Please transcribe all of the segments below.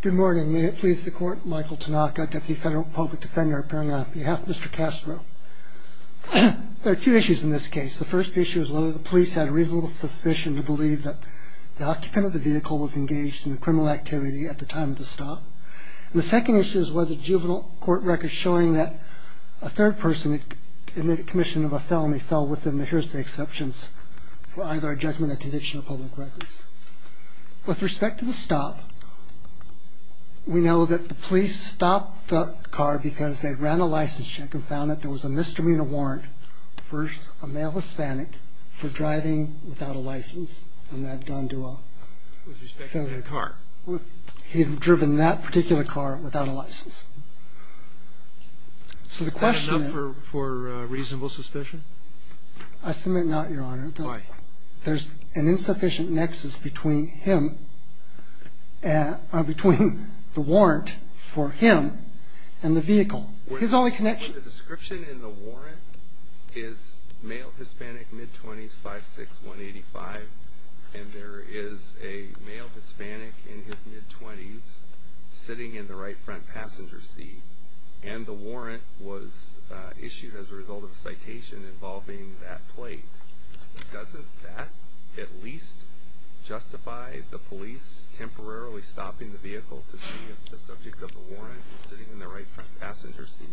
Good morning. May it please the court, Michael Tanaka, Deputy Federal Public Defender appearing on behalf of Mr. Castro. There are two issues in this case. The first issue is whether the police had reasonable suspicion to believe that the occupant of the vehicle was engaged in a criminal activity at the time of the stop. The second issue is whether juvenile court records showing that a third person in the commission of a felony fell within the hearsay exceptions for either a judgment or condition of public records. With respect to the stop, we know that the police stopped the car because they ran a license check and found that there was a misdemeanor warrant for a male Hispanic for driving without a license on that Don Duval. With respect to that car? He had driven that particular car without a license. Is that enough for reasonable suspicion? I submit not, Your Honor. Why? There's an insufficient nexus between him and between the warrant for him and the vehicle. His only connection... The description in the warrant is male Hispanic, mid-20s, 5'6", 185, and there is a male Hispanic in his mid-20s sitting in the right front passenger seat. And the warrant was issued as a result of a citation involving that plate. Doesn't that at least justify the police temporarily stopping the vehicle to see if the subject of the warrant is sitting in the right front passenger seat?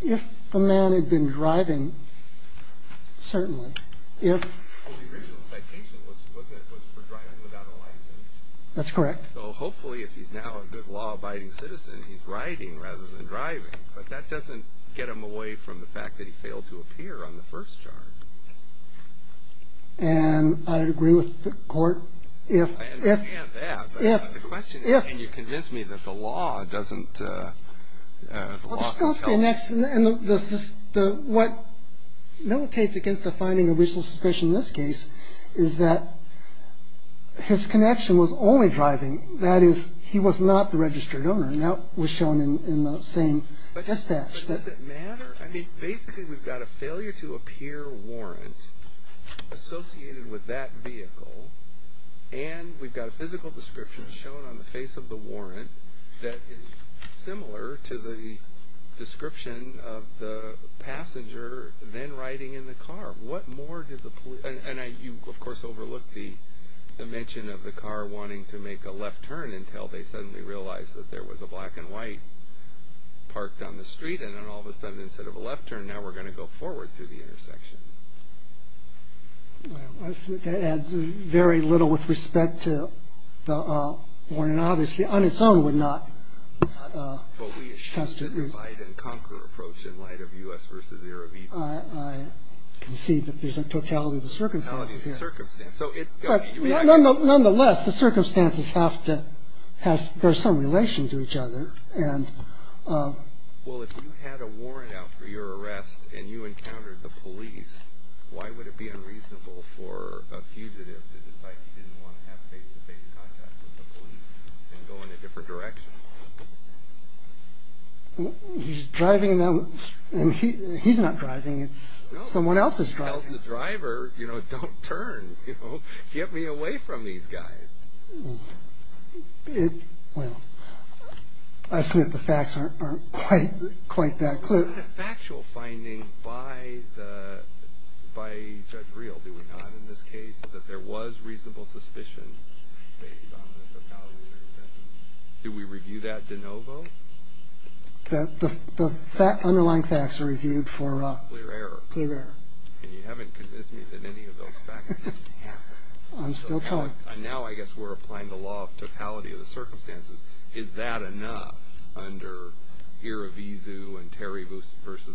If the man had been driving, certainly. If... Well, the original citation was for driving without a license. That's correct. Well, hopefully if he's now a good law-abiding citizen, he's riding rather than driving. But that doesn't get him away from the fact that he failed to appear on the first charge. And I agree with the court if... I understand that, but the question is, can you convince me that the law doesn't... What militates against the finding of racial suspicion in this case is that his connection was only driving. That is, he was not the registered owner. That was shown in the same dispatch. But does it matter? I mean, basically we've got a failure to appear warrant associated with that vehicle, and we've got a physical description shown on the face of the warrant that is similar to the description of the passenger then riding in the car. What more did the police... And you, of course, overlooked the mention of the car wanting to make a left turn until they suddenly realized that there was a black and white parked on the street. And then all of a sudden, instead of a left turn, now we're going to go forward through the intersection. Well, that adds very little with respect to the warrant. And obviously, on its own, would not... But we assume that the fight-and-conquer approach in light of U.S. v. European... I can see that there's a totality of the circumstances here. Totality of the circumstances. Nonetheless, the circumstances have to... There's some relation to each other. Well, if you had a warrant out for your arrest and you encountered the police, why would it be unreasonable for a fugitive to decide he didn't want to have face-to-face contact with the police and go in a different direction? He's driving, and he's not driving. It's someone else's driving. No, he tells the driver, you know, don't turn. Get me away from these guys. Well, I submit the facts aren't quite that clear. The factual finding by Judge Greel, do we not, in this case, that there was reasonable suspicion based on the totality of the circumstances, do we review that de novo? The underlying facts are reviewed for... Clear error. Clear error. And you haven't convinced me that any of those facts... I'm still trying. And now I guess we're applying the law of totality of the circumstances. Is that enough under Irivizu and Terry v.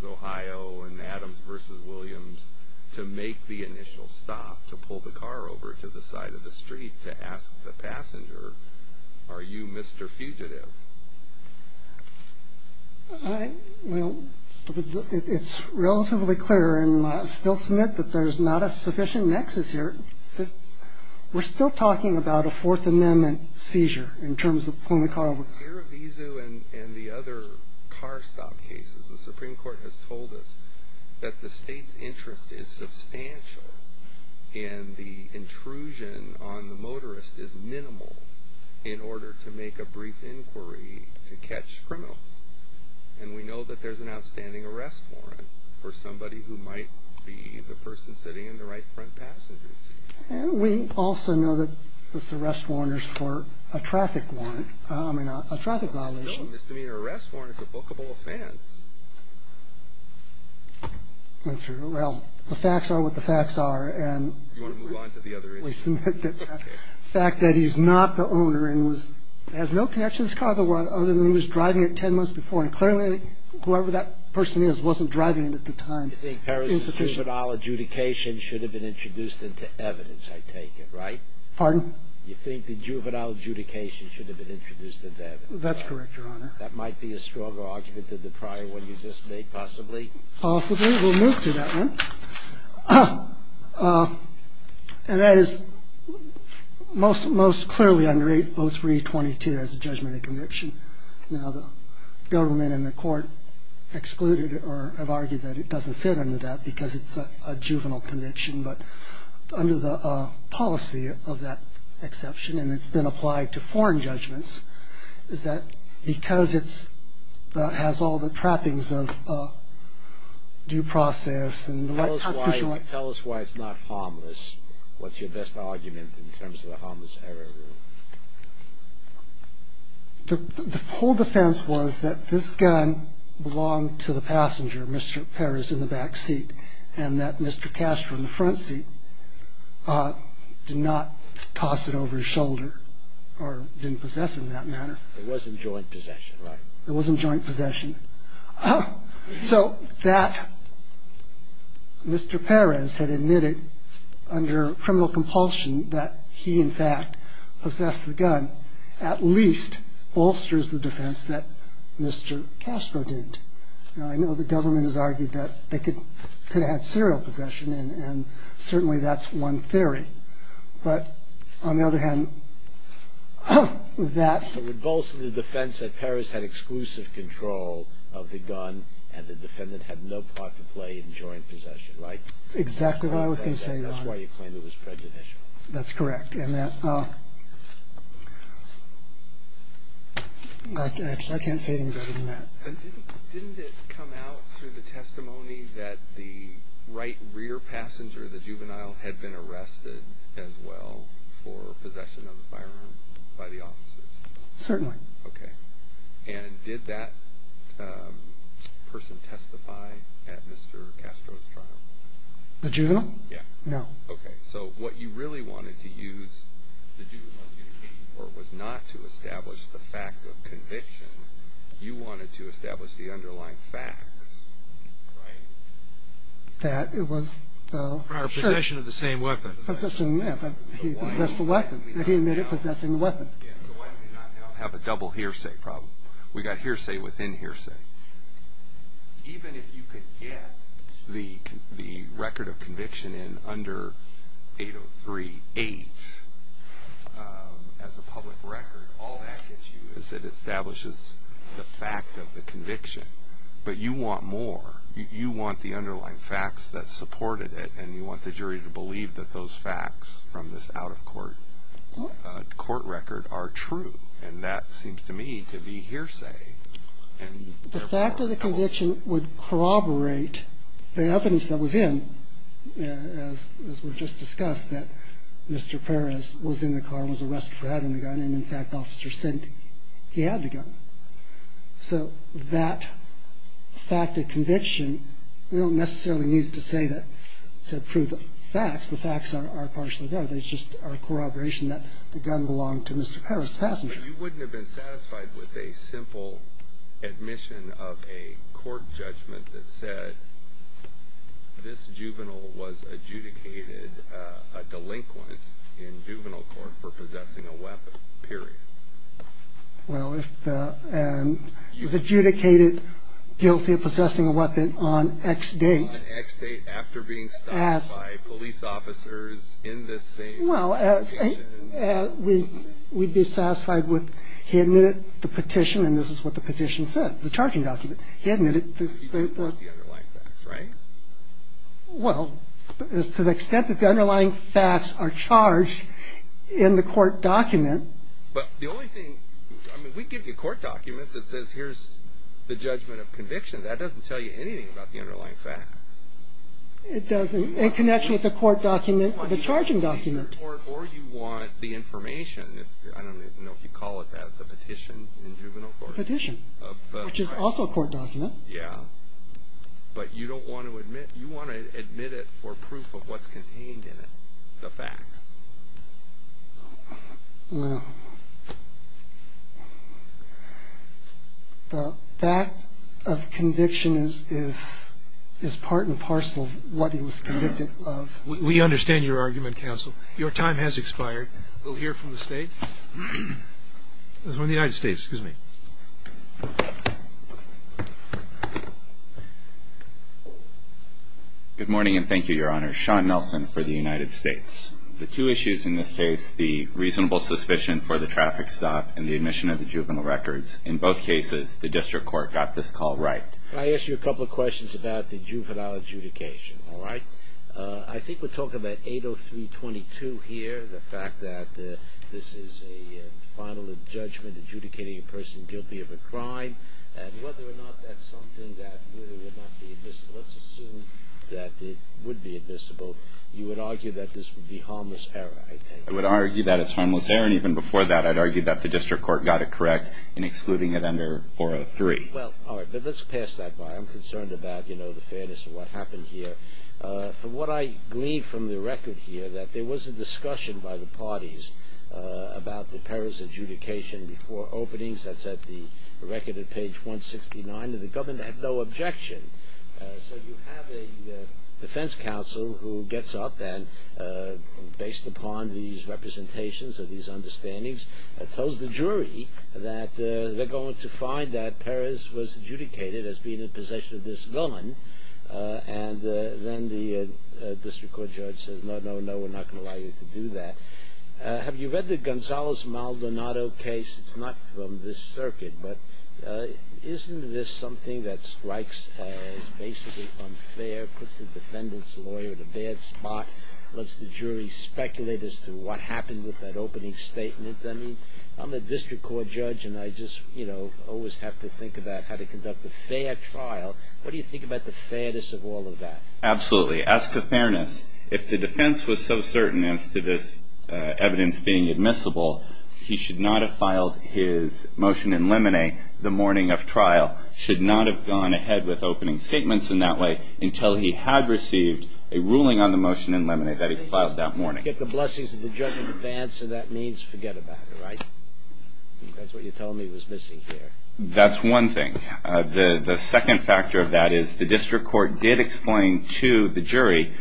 Ohio and Adams v. Williams to make the initial stop to pull the car over to the side of the street to ask the passenger, are you Mr. Fugitive? Well, it's relatively clear, and I still submit that there's not a sufficient nexus here. We're still talking about a Fourth Amendment seizure in terms of pulling the car over. In Irivizu and the other car stop cases, the Supreme Court has told us that the state's interest is substantial and the intrusion on the motorist is minimal in order to make a brief inquiry to catch criminals. And we know that there's an outstanding arrest warrant for somebody who might be the person sitting in the right front passenger seat. And we also know that there's arrest warrants for a traffic violation. No misdemeanor arrest warrant is a bookable offense. Well, the facts are what the facts are. Do you want to move on to the other issue? The fact that he's not the owner and has no connection to this car other than he was driving it 10 months before, and clearly whoever that person is wasn't driving it at the time. You think Harris's juvenile adjudication should have been introduced into evidence, I take it, right? Pardon? You think the juvenile adjudication should have been introduced into evidence? That's correct, Your Honor. That might be a stronger argument than the prior one you just made, possibly? Possibly. We'll move to that one. And that is most clearly under 803.22 as a judgment of conviction. Now, the government and the court excluded or have argued that it doesn't fit under that because it's a juvenile conviction. But under the policy of that exception, and it's been applied to foreign judgments, is that because it has all the trappings of due process and constitutional rights. Tell us why it's not harmless. What's your best argument in terms of the harmless error rule? The full defense was that this gun belonged to the passenger, Mr. Perez, in the back seat, and that Mr. Castro in the front seat did not toss it over his shoulder or didn't possess it in that manner. It was in joint possession, right? It was in joint possession. So that Mr. Perez had admitted under criminal compulsion that he, in fact, possessed the gun, at least bolsters the defense that Mr. Castro didn't. Now, I know the government has argued that they could have had serial possession, and certainly that's one theory. But on the other hand, that. Bolster the defense that Perez had exclusive control of the gun and the defendant had no part to play in joint possession, right? Exactly what I was going to say, Your Honor. That's why you claim it was prejudicial. That's correct. I can't say it any better than that. Didn't it come out through the testimony that the right rear passenger, the juvenile, had been arrested as well for possession of a firearm by the officers? Certainly. Okay. And did that person testify at Mr. Castro's trial? The juvenile? Yeah. No. Okay. So what you really wanted to use the juvenile for was not to establish the fact of conviction. You wanted to establish the underlying facts, right? That it was the possession of the same weapon. Possession, yeah, but he possessed the weapon. He admitted possessing the weapon. Yeah, so why did we not have a double hearsay problem? We got hearsay within hearsay. Even if you could get the record of conviction in under 803-8 as a public record, all that gets you is it establishes the fact of the conviction. But you want more. You want the underlying facts that supported it, and you want the jury to believe that those facts from this out-of-court record are true. And that seems to me to be hearsay. The fact of the conviction would corroborate the evidence that was in, as we've just discussed, that Mr. Perez was in the car and was arrested for having the gun, and, in fact, Officer Sinti, he had the gun. So that fact of conviction, we don't necessarily need to say that to prove the facts. The facts are partially there. They just are a corroboration that the gun belonged to Mr. Perez's passenger. But you wouldn't have been satisfied with a simple admission of a court judgment that said, this juvenile was adjudicated a delinquent in juvenile court for possessing a weapon, period. Well, if the adjudicated guilty of possessing a weapon on X date. On X date, after being stopped by police officers in the same location. Well, we'd be satisfied with he admitted the petition, and this is what the petition said, the charging document. He admitted the- He just took the underlying facts, right? Well, as to the extent that the underlying facts are charged in the court document- But the only thing, I mean, we give you a court document that says, here's the judgment of conviction. That doesn't tell you anything about the underlying facts. It doesn't, in connection with the court document, the charging document. Or you want the information. I don't even know if you call it that, the petition in juvenile court. The petition, which is also a court document. Yeah. But you don't want to admit, you want to admit it for proof of what's contained in it, the facts. Well, the fact of conviction is part and parcel of what he was convicted of. We understand your argument, counsel. Your time has expired. We'll hear from the state. This is from the United States. Excuse me. Good morning, and thank you, Your Honor. Sean Nelson for the United States. The two issues in this case, the reasonable suspicion for the traffic stop and the admission of the juvenile records. In both cases, the district court got this call right. Can I ask you a couple of questions about the juvenile adjudication, all right? I think we're talking about 803.22 here, the fact that this is a final judgment adjudicating a person guilty of a crime, and whether or not that's something that really would not be admissible. So let's assume that it would be admissible. You would argue that this would be harmless error, I take it? I would argue that it's harmless error, and even before that I'd argue that the district court got it correct in excluding it under 403. Well, all right, but let's pass that by. I'm concerned about, you know, the fairness of what happened here. From what I gleaned from the record here, that there was a discussion by the parties about the Paris adjudication before openings. That's at the record at page 169. The government had no objection. So you have a defense counsel who gets up and, based upon these representations or these understandings, tells the jury that they're going to find that Paris was adjudicated as being in possession of this villain, and then the district court judge says, no, no, no, we're not going to allow you to do that. Have you read the Gonzales-Maldonado case? It's not from this circuit, but isn't this something that strikes as basically unfair, puts the defendant's lawyer in a bad spot, lets the jury speculate as to what happened with that opening statement? I mean, I'm a district court judge, and I just, you know, always have to think about how to conduct a fair trial. What do you think about the fairness of all of that? Absolutely. As to fairness, if the defense was so certain as to this evidence being admissible, he should not have filed his motion in limine the morning of trial, should not have gone ahead with opening statements in that way until he had received a ruling on the motion in limine that he filed that morning. If you get the blessings of the judge in advance of that means, forget about it, right? That's what you told me was missing here. That's one thing. The second factor of that is the district court did explain to the jury,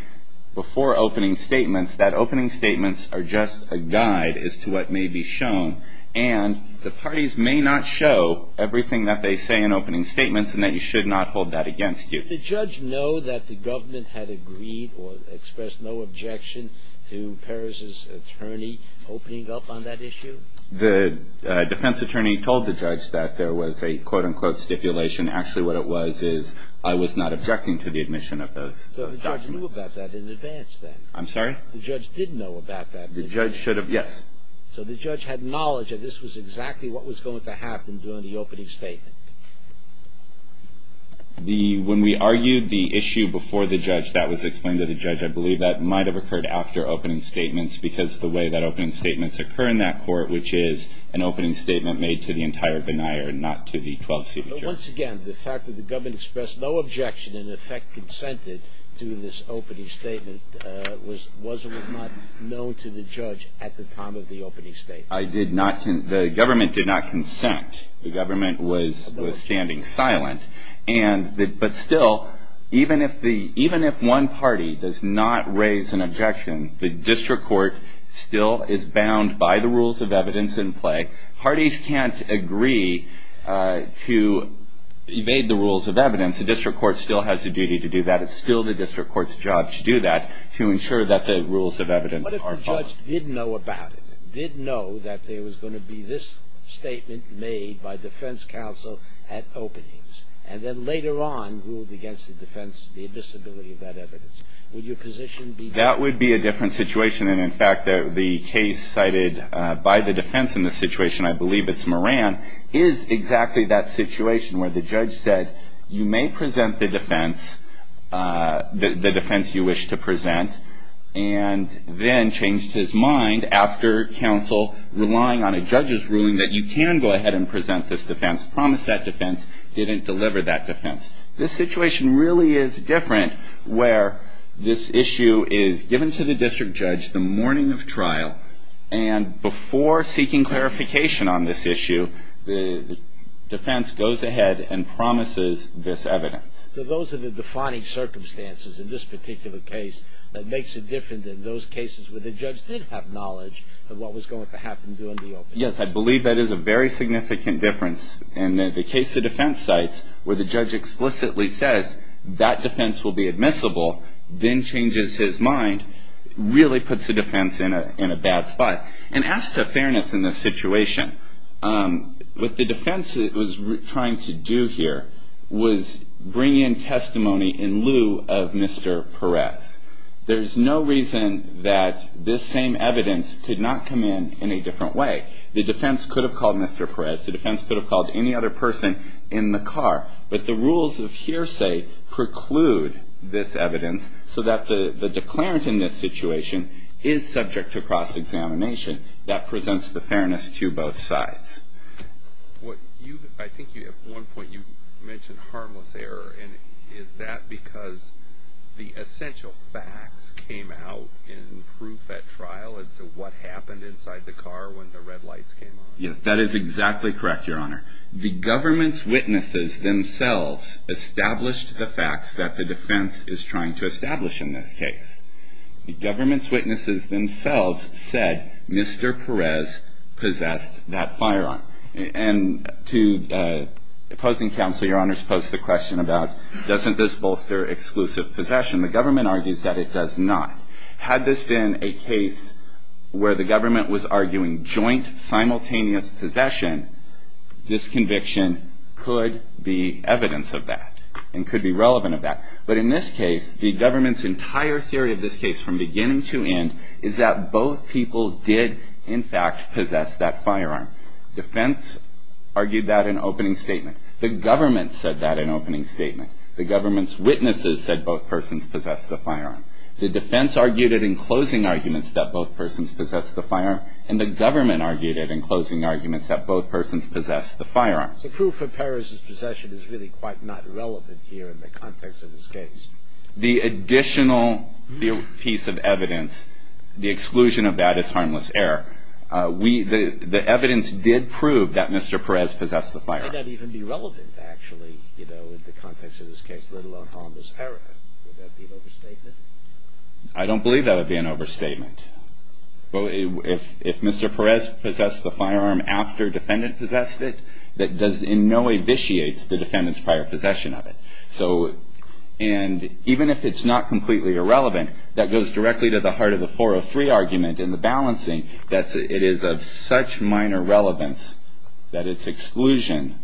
before opening statements, that opening statements are just a guide as to what may be shown, and the parties may not show everything that they say in opening statements and that you should not hold that against you. Did the judge know that the government had agreed or expressed no objection to Paris's attorney opening up on that issue? The defense attorney told the judge that there was a, quote, unquote, stipulation. Actually, what it was is I was not objecting to the admission of those documents. So the judge knew about that in advance then? The judge did know about that. The judge should have, yes. So the judge had knowledge that this was exactly what was going to happen during the opening statement. The, when we argued the issue before the judge, that was explained to the judge, I believe that might have occurred after opening statements because the way that opening statements occur in that court, which is an opening statement made to the entire denier, not to the 12-seat judge. But once again, the fact that the government expressed no objection and in effect consented to this opening statement was or was not known to the judge at the time of the opening statement. I did not, the government did not consent. The government was standing silent. And, but still, even if one party does not raise an objection, the district court still is bound by the rules of evidence in play. Parties can't agree to evade the rules of evidence. And since the district court still has a duty to do that, it's still the district court's job to do that to ensure that the rules of evidence are followed. What if the judge did know about it, did know that there was going to be this statement made by defense counsel at openings and then later on ruled against the defense the admissibility of that evidence? Would your position be different? That would be a different situation. And, in fact, the case cited by the defense in this situation, I believe it's Moran, is exactly that situation where the judge said, you may present the defense, the defense you wish to present, and then changed his mind after counsel relying on a judge's ruling that you can go ahead and present this defense, promise that defense, didn't deliver that defense. This situation really is different where this issue is given to the district judge the morning of trial and before seeking clarification on this issue, the defense goes ahead and promises this evidence. So those are the defining circumstances in this particular case that makes it different than those cases where the judge did have knowledge of what was going to happen during the openings. Yes, I believe that is a very significant difference. And the case the defense cites where the judge explicitly says that defense will be admissible then changes his mind really puts the defense in a bad spot. And as to fairness in this situation, what the defense was trying to do here was bring in testimony in lieu of Mr. Perez. There's no reason that this same evidence could not come in in a different way. The defense could have called Mr. Perez. The defense could have called any other person in the car. But the rules of hearsay preclude this evidence so that the declarant in this situation is subject to cross-examination. That presents the fairness to both sides. I think at one point you mentioned harmless error. Is that because the essential facts came out in proof at trial as to what happened inside the car when the red lights came on? Yes, that is exactly correct, Your Honor. The government's witnesses themselves established the facts that the defense is trying to establish in this case. The government's witnesses themselves said Mr. Perez possessed that firearm. And to opposing counsel, Your Honor's posed the question about doesn't this bolster exclusive possession? The government argues that it does not. Had this been a case where the government was arguing joint simultaneous possession, this conviction could be evidence of that and could be relevant of that. But in this case, the government's entire theory of this case from beginning to end is that both people did, in fact, possess that firearm. Defense argued that in opening statement. The government said that in opening statement. The government's witnesses said both persons possessed the firearm. And the government argued it in closing arguments that both persons possessed the firearm. So proof for Perez's possession is really quite not relevant here in the context of this case. The additional piece of evidence, the exclusion of that is harmless error. The evidence did prove that Mr. Perez possessed the firearm. Would that even be relevant actually, you know, in the context of this case, let alone harmless error? Would that be an overstatement? I don't believe that would be an overstatement. If Mr. Perez possessed the firearm after defendant possessed it, that in no way vitiates the defendant's prior possession of it. And even if it's not completely irrelevant, that goes directly to the heart of the 403 argument and the balancing, that it is of such minor relevance that its exclusion,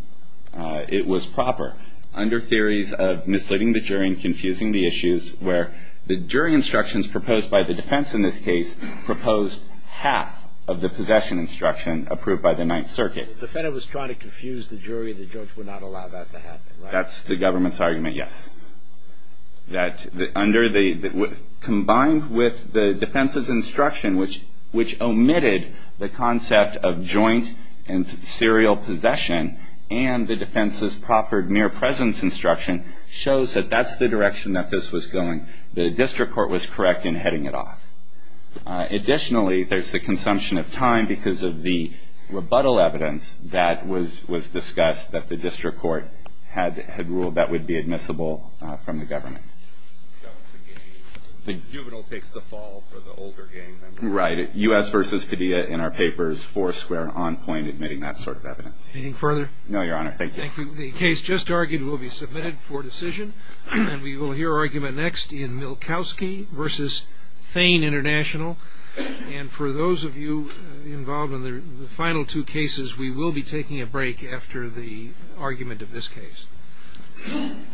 it was proper. Under theories of misleading the jury and confusing the issues, where the jury instructions proposed by the defense in this case, proposed half of the possession instruction approved by the Ninth Circuit. The defendant was trying to confuse the jury. The judge would not allow that to happen. That's the government's argument, yes. That under the combined with the defense's instruction, which omitted the concept of joint and serial possession, and the defense's proffered mere presence instruction, shows that that's the direction that this was going. The district court was correct in heading it off. Additionally, there's the consumption of time because of the rebuttal evidence that was discussed that the district court had ruled that would be admissible from the government. The juvenile takes the fall for the older gang member. Right. U.S. versus Padilla in our papers, four square on point admitting that sort of evidence. Anything further? No, Your Honor. Thank you. The case just argued will be submitted for decision, and we will hear argument next in Milkowski versus Thane International. And for those of you involved in the final two cases, we will be taking a break after the argument of this case.